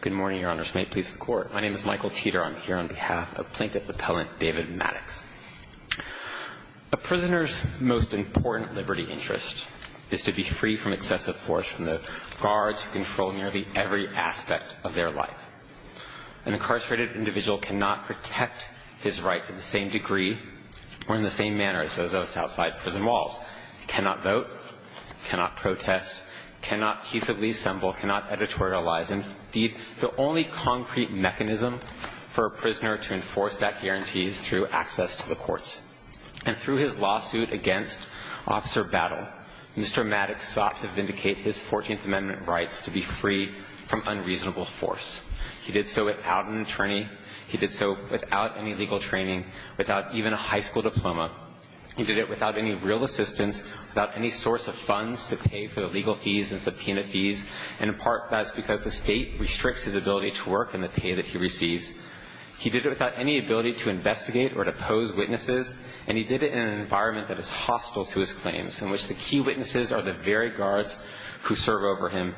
Good morning, Your Honors. May it please the Court. My name is Michael Cheater. I'm here on behalf of plaintiff appellant David Maddox. A prisoner's most important liberty interest is to be free from excessive force from the guards who control nearly every aspect of their life. An incarcerated individual cannot protect his right to the same degree or in the same manner as those of us outside prison walls. Cannot vote. Cannot protest. Cannot peaceably assemble. Cannot editorialize. Indeed, the only concrete mechanism for a prisoner to enforce that guarantee is through access to the courts. And through his lawsuit against Officer Battle, Mr. Maddox sought to vindicate his 14th Amendment rights to be free from unreasonable force. He did so without an attorney. He did so without any legal training, without even a high school diploma. He did it without any real assistance, without any source of funds to pay for the legal fees and subpoena fees. And in part, that's because the State restricts his ability to work and the pay that he receives. He did it without any ability to investigate or to pose witnesses. And he did it in an environment that is hostile to his claims, in which the key witnesses are the very guards who serve over him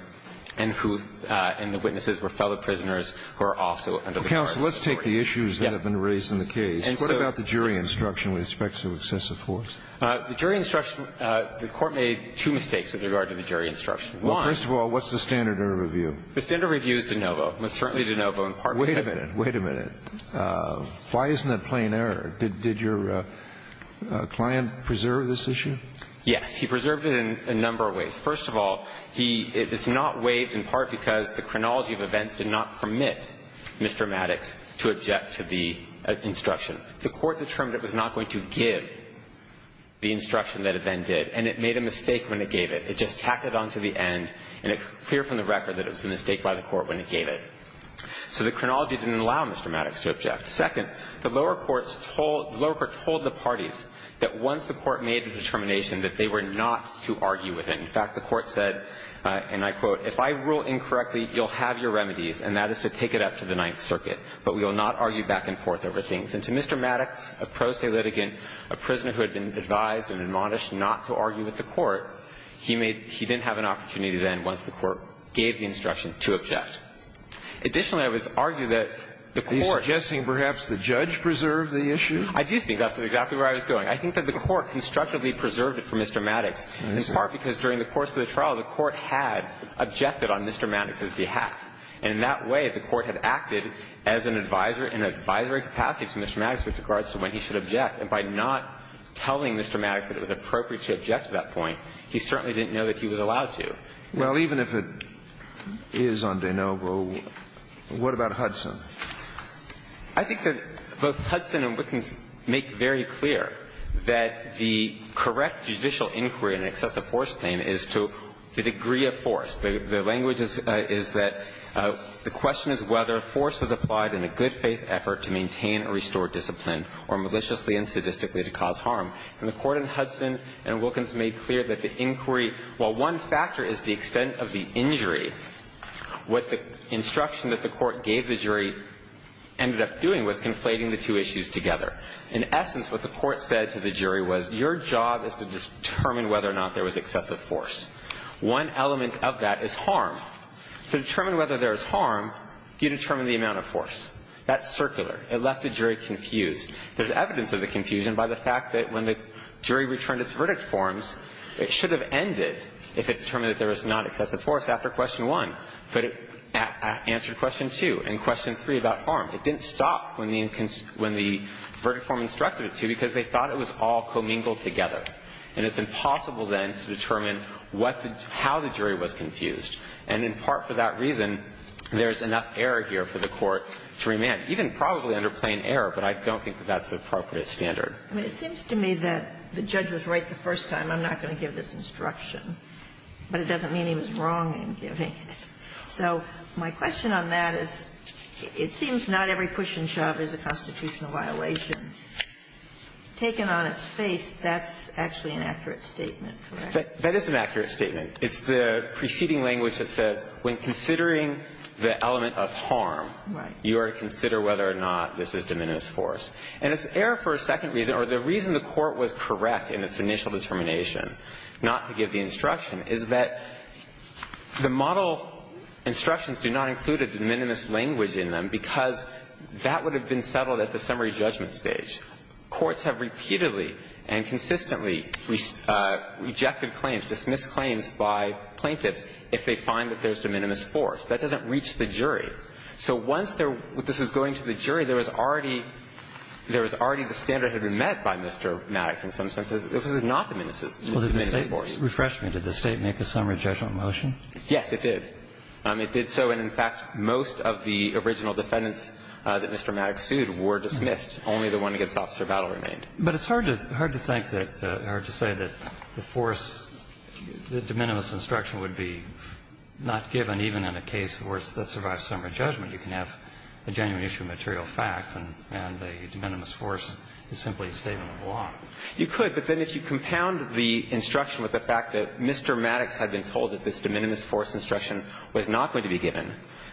and who – and the witnesses were fellow prisoners who are also under the guards' authority. Let's take the issues that have been raised in the case. What about the jury instruction with respect to excessive force? The jury instruction – the Court made two mistakes with regard to the jury instruction. First of all, what's the standard error review? The standard review is de novo. It's certainly de novo in part because – Wait a minute. Wait a minute. Why isn't that plain error? Did your client preserve this issue? Yes. He preserved it in a number of ways. First of all, he – it's not waived in part because the chronology of events did not permit Mr. Maddox to object to the instruction. The Court determined it was not going to give the instruction that it then did, and it made a mistake when it gave it. It just tacked it on to the end, and it's clear from the record that it was a mistake by the Court when it gave it. So the chronology didn't allow Mr. Maddox to object. Second, the lower courts told – the lower courts told the parties that once the Court made a determination that they were not to argue with it. In fact, the Court said, and I quote, If I rule incorrectly, you'll have your remedies, and that is to take it up to the Ninth Circuit. But we will not argue back and forth over things. And to Mr. Maddox, a pro se litigant, a prisoner who had been advised and admonished not to argue with the Court, he made – he didn't have an opportunity then once the Court gave the instruction to object. Additionally, I would argue that the Court – And did perhaps the judge preserve the issue? I do think that's exactly where I was going. I think that the Court constructively preserved it for Mr. Maddox, in part because during the course of the trial, the Court had objected on Mr. Maddox's behalf. And in that way, the Court had acted as an advisor in an advisory capacity to Mr. Maddox with regards to when he should object. And by not telling Mr. Maddox that it was appropriate to object to that point, he certainly didn't know that he was allowed to. Well, even if it is on de novo, what about Hudson? I think that both Hudson and Wilkins make very clear that the correct judicial inquiry in an excessive force claim is to the degree of force. The language is that the question is whether force was applied in a good-faith effort to maintain or restore discipline or maliciously and sadistically to cause harm. And the Court in Hudson and Wilkins made clear that the inquiry, while one factor is the extent of the injury, what the instruction that the Court gave the jury ended up doing was conflating the two issues together. In essence, what the Court said to the jury was, your job is to determine whether or not there was excessive force. One element of that is harm. To determine whether there is harm, you determine the amount of force. That's circular. It left the jury confused. There's evidence of the confusion by the fact that when the jury returned its verdict forms, it should have ended if it determined that there was not excessive force after question one. But it answered question two. And question three about harm, it didn't stop when the verdict form instructed it to because they thought it was all commingled together. And it's impossible then to determine what the – how the jury was confused. And in part for that reason, there's enough error here for the Court to remand, even probably under plain error, but I don't think that that's the appropriate standard. I mean, it seems to me that the judge was right the first time. I'm not going to give this instruction. But it doesn't mean he was wrong in giving it. So my question on that is, it seems not every push and shove is a constitutional violation. Taken on its face, that's actually an accurate statement, correct? That is an accurate statement. It's the preceding language that says when considering the element of harm, you are to consider whether or not this is de minimis force. And it's error for a second reason, or the reason the Court was correct in its initial determination not to give the instruction is that the model instructions do not include a de minimis language in them, because that would have been settled at the summary judgment stage. Courts have repeatedly and consistently rejected claims, dismissed claims by plaintiffs if they find that there's de minimis force. That doesn't reach the jury. So once this was going to the jury, there was already the standard that had been met by Mr. Maddox in some sense. This is not de minimis force. Refresh me. Did the State make a summary judgment motion? Yes, it did. It did so. And in fact, most of the original defendants that Mr. Maddox sued were dismissed. Only the one against Officer Vattle remained. But it's hard to think that or to say that the force, the de minimis instruction would be not given even in a case where it survives summary judgment. You can have a genuine issue of material fact, and the de minimis force is simply a statement of law. You could, but then if you compound the instruction with the fact that Mr. Maddox had been told that this de minimis force instruction was not going to be given,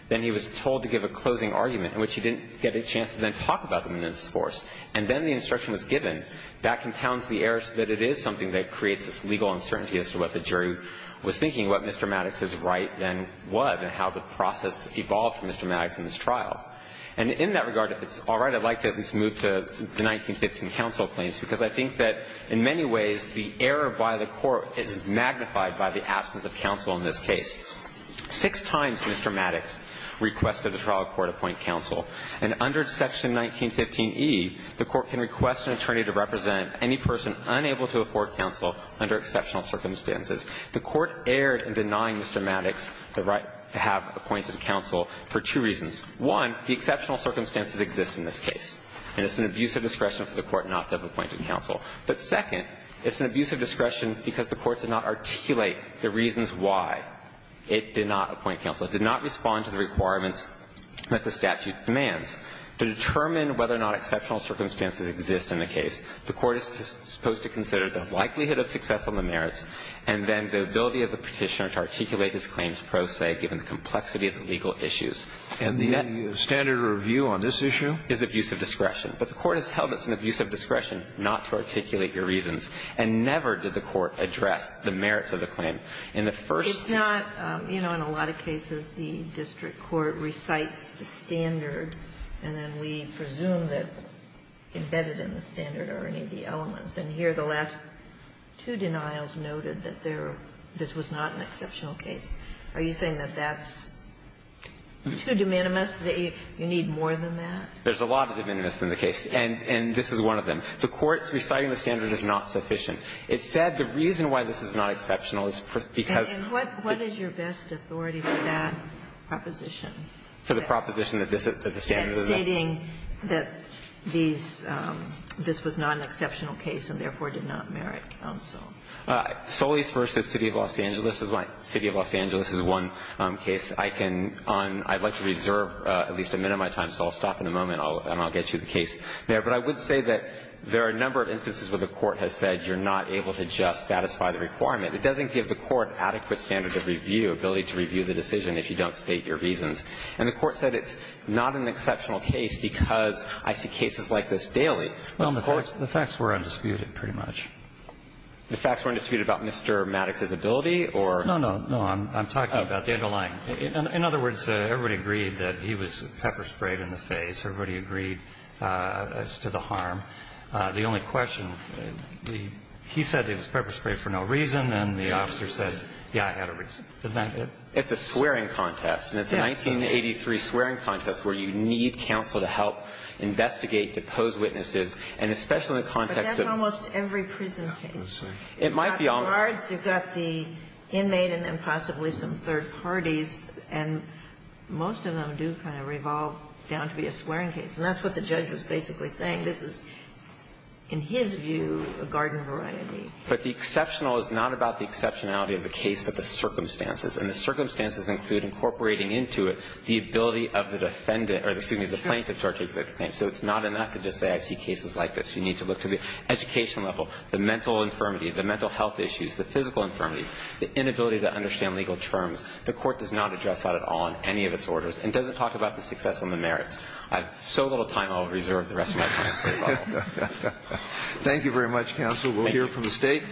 then he was told to give a closing argument in which he didn't get a chance to then talk about the de minimis force, and then the instruction was given, that compounds the error so that it is something that creates this legal uncertainty as to what the jury was thinking, what Mr. Maddox's right then was, and how the process evolved for Mr. Maddox in this trial. And in that regard, if it's all right, I'd like to at least move to the 1915 counsel claims, because I think that in many ways the error by the Court is magnified by the absence of counsel in this case. Six times Mr. Maddox requested the trial court appoint counsel. And under section 1915e, the Court can request an attorney to represent any person unable to afford counsel under exceptional circumstances. The Court erred in denying Mr. Maddox the right to have appointed counsel for two reasons. One, the exceptional circumstances exist in this case, and it's an abuse of discretion for the Court not to have appointed counsel. But second, it's an abuse of discretion because the Court did not articulate the reasons why it did not appoint counsel. It did not respond to the requirements that the statute demands. To determine whether or not exceptional circumstances exist in the case, the Court is supposed to consider the likelihood of success on the merits and then the ability of the Petitioner to articulate his claims pro se given the complexity of the legal issues. And the standard of review on this issue? Is abuse of discretion. But the Court has held it's an abuse of discretion not to articulate your reasons, and never did the Court address the merits of the claim. And the first thing. Ginsburg. It's not, you know, in a lot of cases the district court recites the standard and then we presume that embedded in the standard are any of the elements. And here the last two denials noted that there, this was not an exceptional case. Are you saying that that's too de minimis, that you need more than that? There's a lot of de minimis in the case, and this is one of them. The Court reciting the standard is not sufficient. It said the reason why this is not exceptional is because of the. And then what is your best authority for that proposition? For the proposition that this is, that the standard is not. And stating that these, this was not an exceptional case and therefore did not merit counsel. Solis v. City of Los Angeles is my, City of Los Angeles is one case. I can, on, I'd like to reserve at least a minute of my time, so I'll stop in a moment and I'll get you the case there. But I would say that there are a number of instances where the Court has said you're not able to just satisfy the requirement. It doesn't give the Court adequate standard of review, ability to review the decision if you don't state your reasons. And the Court said it's not an exceptional case because I see cases like this daily. Well, the facts were undisputed, pretty much. The facts were undisputed about Mr. Maddox's ability or? No, no, no. I'm talking about the underlying. In other words, everybody agreed that he was pepper sprayed in the face. Everybody agreed as to the harm. The only question, he said he was pepper sprayed for no reason, and the officer said, yeah, I had a reason. Isn't that it? It's a swearing contest, and it's a 1983 swearing contest where you need counsel to help investigate, to pose witnesses, and especially in the context of. But that's almost every prison case. It might be almost. You've got the inmate and then possibly some third parties, and most of them do kind of fall down to be a swearing case. And that's what the judge was basically saying. This is, in his view, a garden of variety. But the exceptional is not about the exceptionality of the case, but the circumstances. And the circumstances include incorporating into it the ability of the defendant or, excuse me, the plaintiff to articulate the claim. So it's not enough to just say I see cases like this. You need to look to the education level, the mental infirmity, the mental health issues, the physical infirmities, the inability to understand legal terms. The Court does not address that at all in any of its orders and doesn't talk about the success and the merits. I have so little time, I'll reserve the rest of my time for you all. Thank you very much, counsel. Thank you. We'll hear from the State.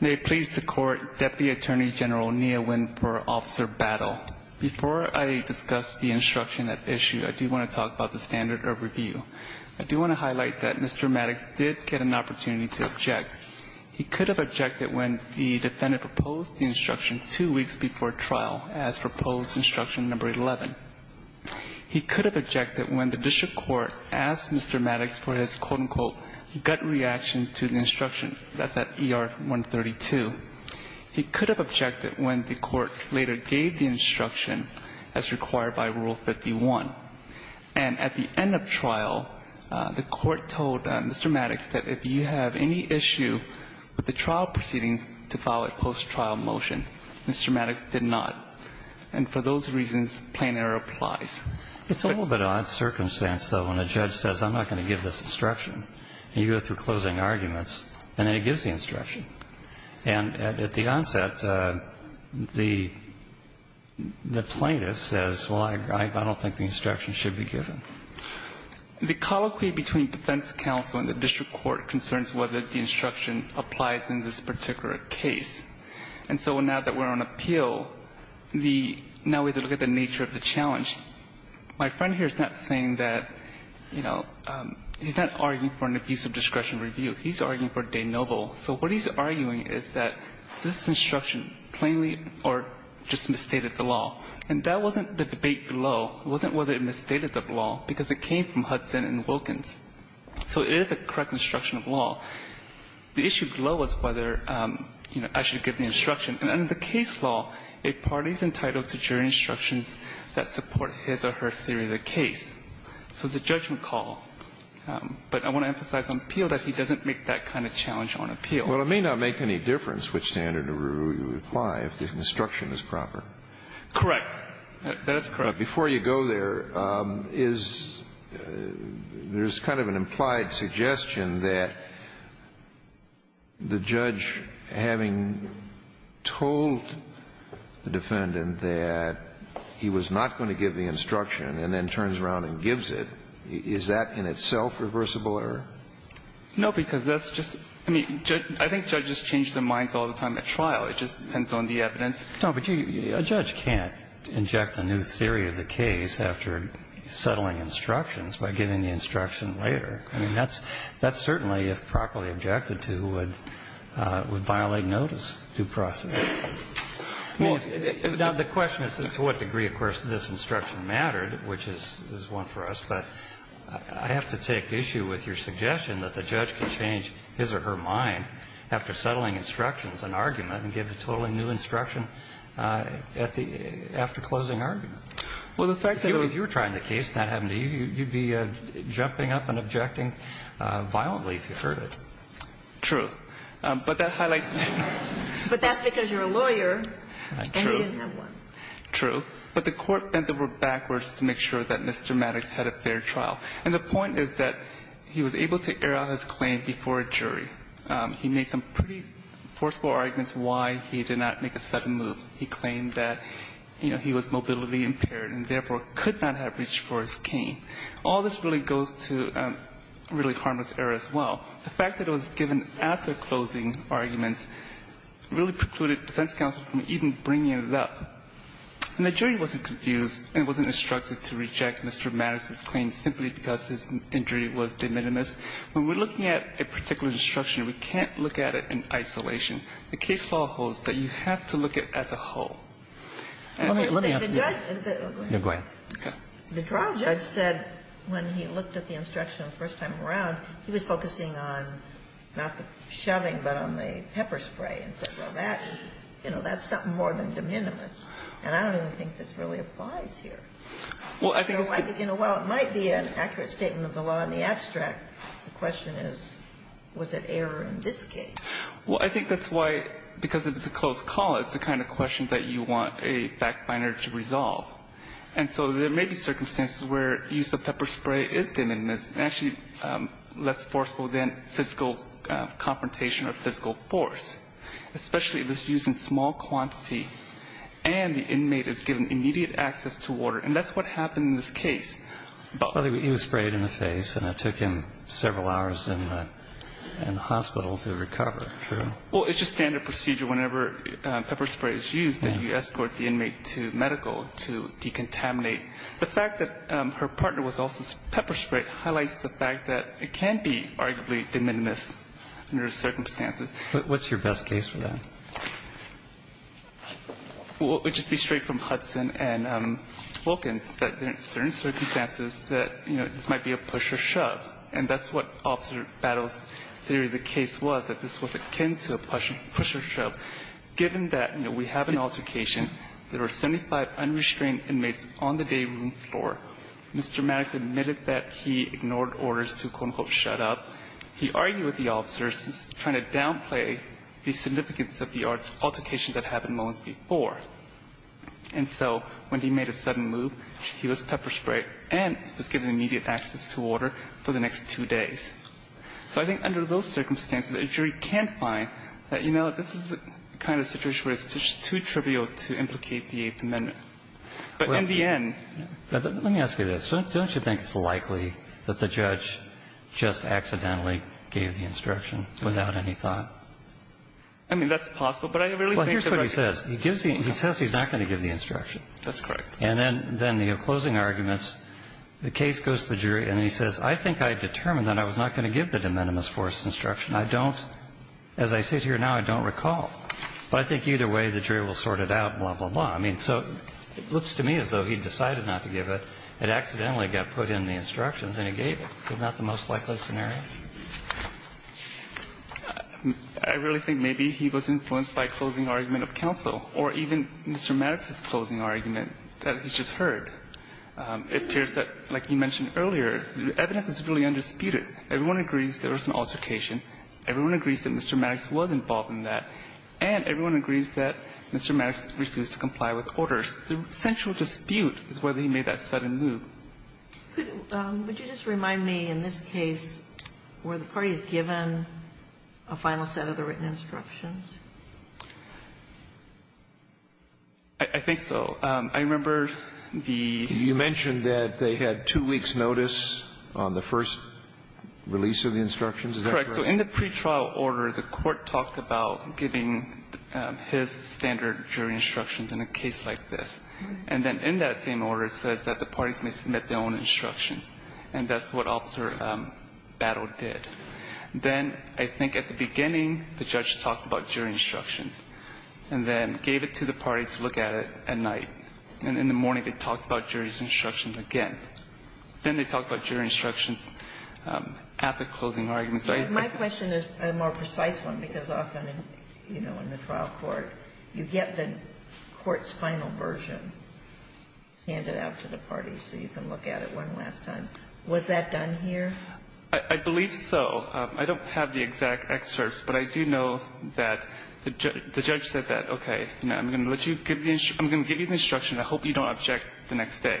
May it please the Court, Deputy Attorney General Neha Winn for Officer Battle. Before I discuss the instruction at issue, I do want to talk about the standard of review. I do want to highlight that Mr. Maddox did get an opportunity to object. He could have objected when the defendant proposed the instruction two weeks before trial as proposed instruction number 11. He could have objected when the district court asked Mr. Maddox for his, quote, unquote, gut reaction to the instruction. That's at ER 132. He could have objected when the court later gave the instruction as required by Rule 51. And at the end of trial, the court told Mr. Maddox that if you have any issue with the trial proceeding, to file a post-trial motion. Mr. Maddox did not. And for those reasons, plain error applies. It's a little bit of an odd circumstance, though, when a judge says, I'm not going to give this instruction. And you go through closing arguments, and then he gives the instruction. And at the onset, the plaintiff says, well, I don't think the instruction should be given. The colloquy between defense counsel and the district court concerns whether the instruction applies in this particular case. And so now that we're on appeal, now we look at the nature of the challenge. My friend here is not saying that, you know, he's not arguing for an abusive discretion review. He's arguing for de noble. So what he's arguing is that this instruction plainly or just misstated the law. And that wasn't the debate below. It wasn't whether it misstated the law, because it came from Hudson and Wilkins. So it is a correct instruction of law. The issue below was whether, you know, I should give the instruction. And under the case law, a party is entitled to jury instructions that support his or her theory of the case. So it's a judgment call. But I want to emphasize on appeal that he doesn't make that kind of challenge on appeal. Kennedy. Well, it may not make any difference which standard of review you apply if the instruction is proper. Correct. That is correct. But before you go there, is there's kind of an implied suggestion that the judge, having told the defendant that he was not going to give the instruction and then in itself reversible error? No, because that's just – I mean, I think judges change their minds all the time at trial. It just depends on the evidence. No, but a judge can't inject a new theory of the case after settling instructions by giving the instruction later. I mean, that's certainly, if properly objected to, would violate notice due process. Now, the question is to what degree, of course, this instruction mattered, which is one for us. But I have to take issue with your suggestion that the judge can change his or her mind after settling instructions and argument and give a totally new instruction at the – after closing argument. Well, the fact that it was – If you were trying the case and that happened to you, you'd be jumping up and objecting violently if you heard it. True. But that highlights – But that's because you're a lawyer and he didn't have one. True. But the court bent the word backwards to make sure that Mr. Maddox had a fair trial. And the point is that he was able to air out his claim before a jury. He made some pretty forceful arguments why he did not make a sudden move. He claimed that, you know, he was mobility impaired and therefore could not have reached for his cane. All this really goes to really harmless error as well. The fact that it was given after closing arguments really precluded defense counsel from even bringing it up. And the jury wasn't confused and wasn't instructed to reject Mr. Maddox's claim simply because his injury was de minimis. When we're looking at a particular instruction, we can't look at it in isolation. The case law holds that you have to look at it as a whole. Let me ask you that. Go ahead. Okay. The trial judge said when he looked at the instruction the first time around, he was focusing on not the shoving but on the pepper spray. And said, well, that's something more than de minimis. And I don't even think this really applies here. You know, while it might be an accurate statement of the law in the abstract, the question is, was it error in this case? Well, I think that's why, because it was a closed call, it's the kind of question that you want a fact finder to resolve. And so there may be circumstances where use of pepper spray is de minimis, actually less forceful than physical confrontation or physical force. Especially if it's used in small quantity and the inmate is given immediate access to water. And that's what happened in this case. Well, he was sprayed in the face and it took him several hours in the hospital to recover. True. Well, it's just standard procedure. Whenever pepper spray is used, then you escort the inmate to medical to decontaminate. The fact that her partner was also pepper sprayed highlights the fact that it can be arguably de minimis under the circumstances. What's your best case for that? Well, it would just be straight from Hudson and Wilkins, that there are certain circumstances that, you know, this might be a push or shove. And that's what Officer Battles' theory of the case was, that this was akin to a push or shove, given that, you know, we have an altercation. There were 75 unrestrained inmates on the day room floor. Mr. Maddox admitted that he ignored orders to, quote, unquote, shut up. He argued with the officers, trying to downplay the significance of the altercation that had happened moments before. And so when he made a sudden move, he was pepper sprayed and was given immediate access to water for the next two days. So I think under those circumstances, a jury can find that, you know, this is the kind of situation where it's just too trivial to implicate the Eighth Amendment. But in the end – Let me ask you this. Don't you think it's likely that the judge just accidentally gave the instruction without any thought? I mean, that's possible. But I really think that – Well, here's what he says. He gives the – he says he's not going to give the instruction. That's correct. And then the closing arguments, the case goes to the jury, and he says, I think I determined that I was not going to give the de minimis force instruction. I don't – as I sit here now, I don't recall. But I think either way, the jury will sort it out, blah, blah, blah. I mean, so it looks to me as though he decided not to give it. It accidentally got put in the instructions, and he gave it. Is that the most likely scenario? I really think maybe he was influenced by a closing argument of counsel or even Mr. Maddox's closing argument that he just heard. It appears that, like you mentioned earlier, the evidence is really undisputed. Everyone agrees there was an altercation. Everyone agrees that Mr. Maddox was involved in that. And everyone agrees that Mr. Maddox refused to comply with orders. The central dispute is whether he made that sudden move. Could – would you just remind me, in this case, were the parties given a final set of the written instructions? I think so. I remember the – You mentioned that they had two weeks' notice on the first release of the instructions. Is that correct? So in the pretrial order, the court talked about giving his standard jury instructions in a case like this. And then in that same order, it says that the parties may submit their own instructions. And that's what Officer Battle did. Then I think at the beginning, the judge talked about jury instructions and then gave it to the party to look at it at night. And in the morning, they talked about jury instructions again. Then they talked about jury instructions after closing arguments. My question is a more precise one, because often, you know, in the trial court, you get the court's final version handed out to the parties so you can look at it one last time. Was that done here? I believe so. I don't have the exact excerpts, but I do know that the judge said that, okay, I'm going to let you – I'm going to give you the instruction. I hope you don't object the next day.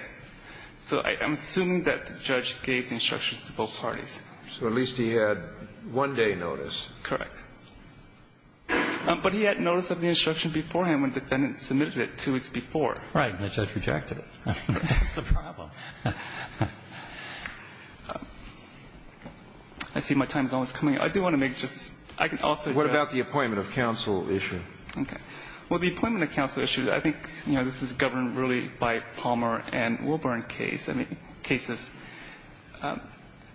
So I'm assuming that the judge gave the instructions to both parties. So at least he had one-day notice. Correct. But he had notice of the instruction beforehand when the defendant submitted it two weeks before. Right. And the judge rejected it. That's the problem. I see my time is almost coming up. I do want to make just – I can also address – What about the appointment of counsel issue? Okay. Well, the appointment of counsel issue, I think, you know, this is governed really by Palmer and Wilburn case. I mean, cases –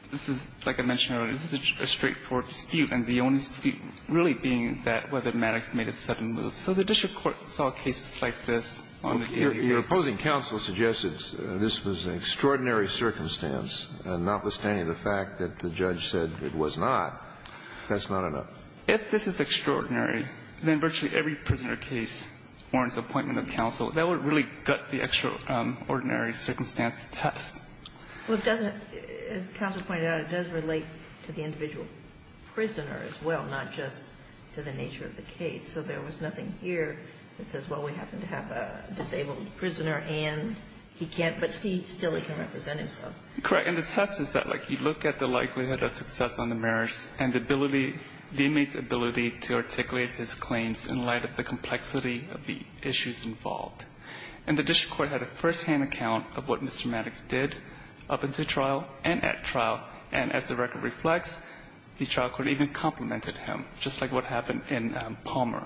this is, like I mentioned earlier, this is a straightforward dispute, and the only dispute really being that whether Maddox made a sudden move. So the district court saw cases like this on the daily basis. Your opposing counsel suggests that this was an extraordinary circumstance, and notwithstanding the fact that the judge said it was not, that's not enough. If this is extraordinary, then virtually every prisoner case warrants appointment of counsel. That would really gut the extraordinary circumstance test. Well, it doesn't – as counsel pointed out, it does relate to the individual prisoner as well, not just to the nature of the case. So there was nothing here that says, well, we happen to have a disabled prisoner and he can't – but still he can represent himself. Correct. And the test is that, like, you look at the likelihood of success on the merits and the ability – the inmate's ability to articulate his claims in light of the And the district court had a firsthand account of what Mr. Maddox did up until trial and at trial. And as the record reflects, the trial court even complimented him, just like what happened in Palmer.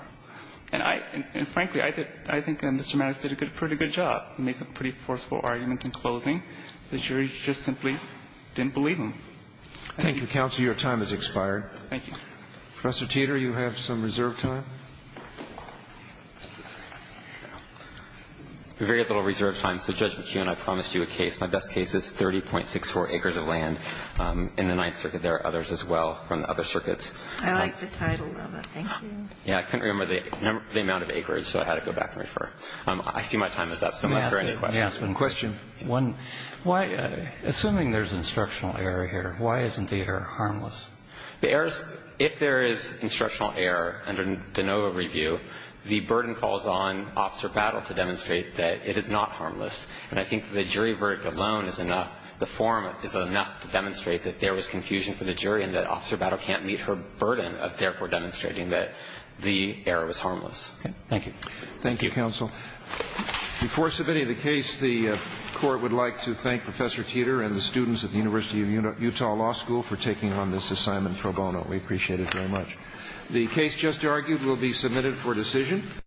And I – and frankly, I think Mr. Maddox did a pretty good job. He made some pretty forceful arguments in closing. The jury just simply didn't believe him. Thank you. Thank you, counsel. Your time has expired. Thank you. Professor Teeter, you have some reserved time. We have very little reserved time. So, Judge McKeon, I promised you a case. My best case is 30.64 acres of land in the Ninth Circuit. There are others as well from the other circuits. I like the title of it. Thank you. Yeah. I couldn't remember the amount of acres, so I had to go back and refer. I see my time is up. So am I free for any questions? May I ask one question? One. Why – assuming there's instructional error here, why isn't the error harmless? The error is – if there is instructional error under the Ninth Circuit, the burden calls on Officer Battle to demonstrate that it is not harmless. And I think the jury verdict alone is enough – the forum is enough to demonstrate that there was confusion for the jury and that Officer Battle can't meet her burden of therefore demonstrating that the error was harmless. Thank you. Thank you, counsel. Before submitting the case, the Court would like to thank Professor Teeter and the students at the University of Utah Law School for taking on this assignment pro bono. We appreciate it very much. The case just argued will be submitted for decision.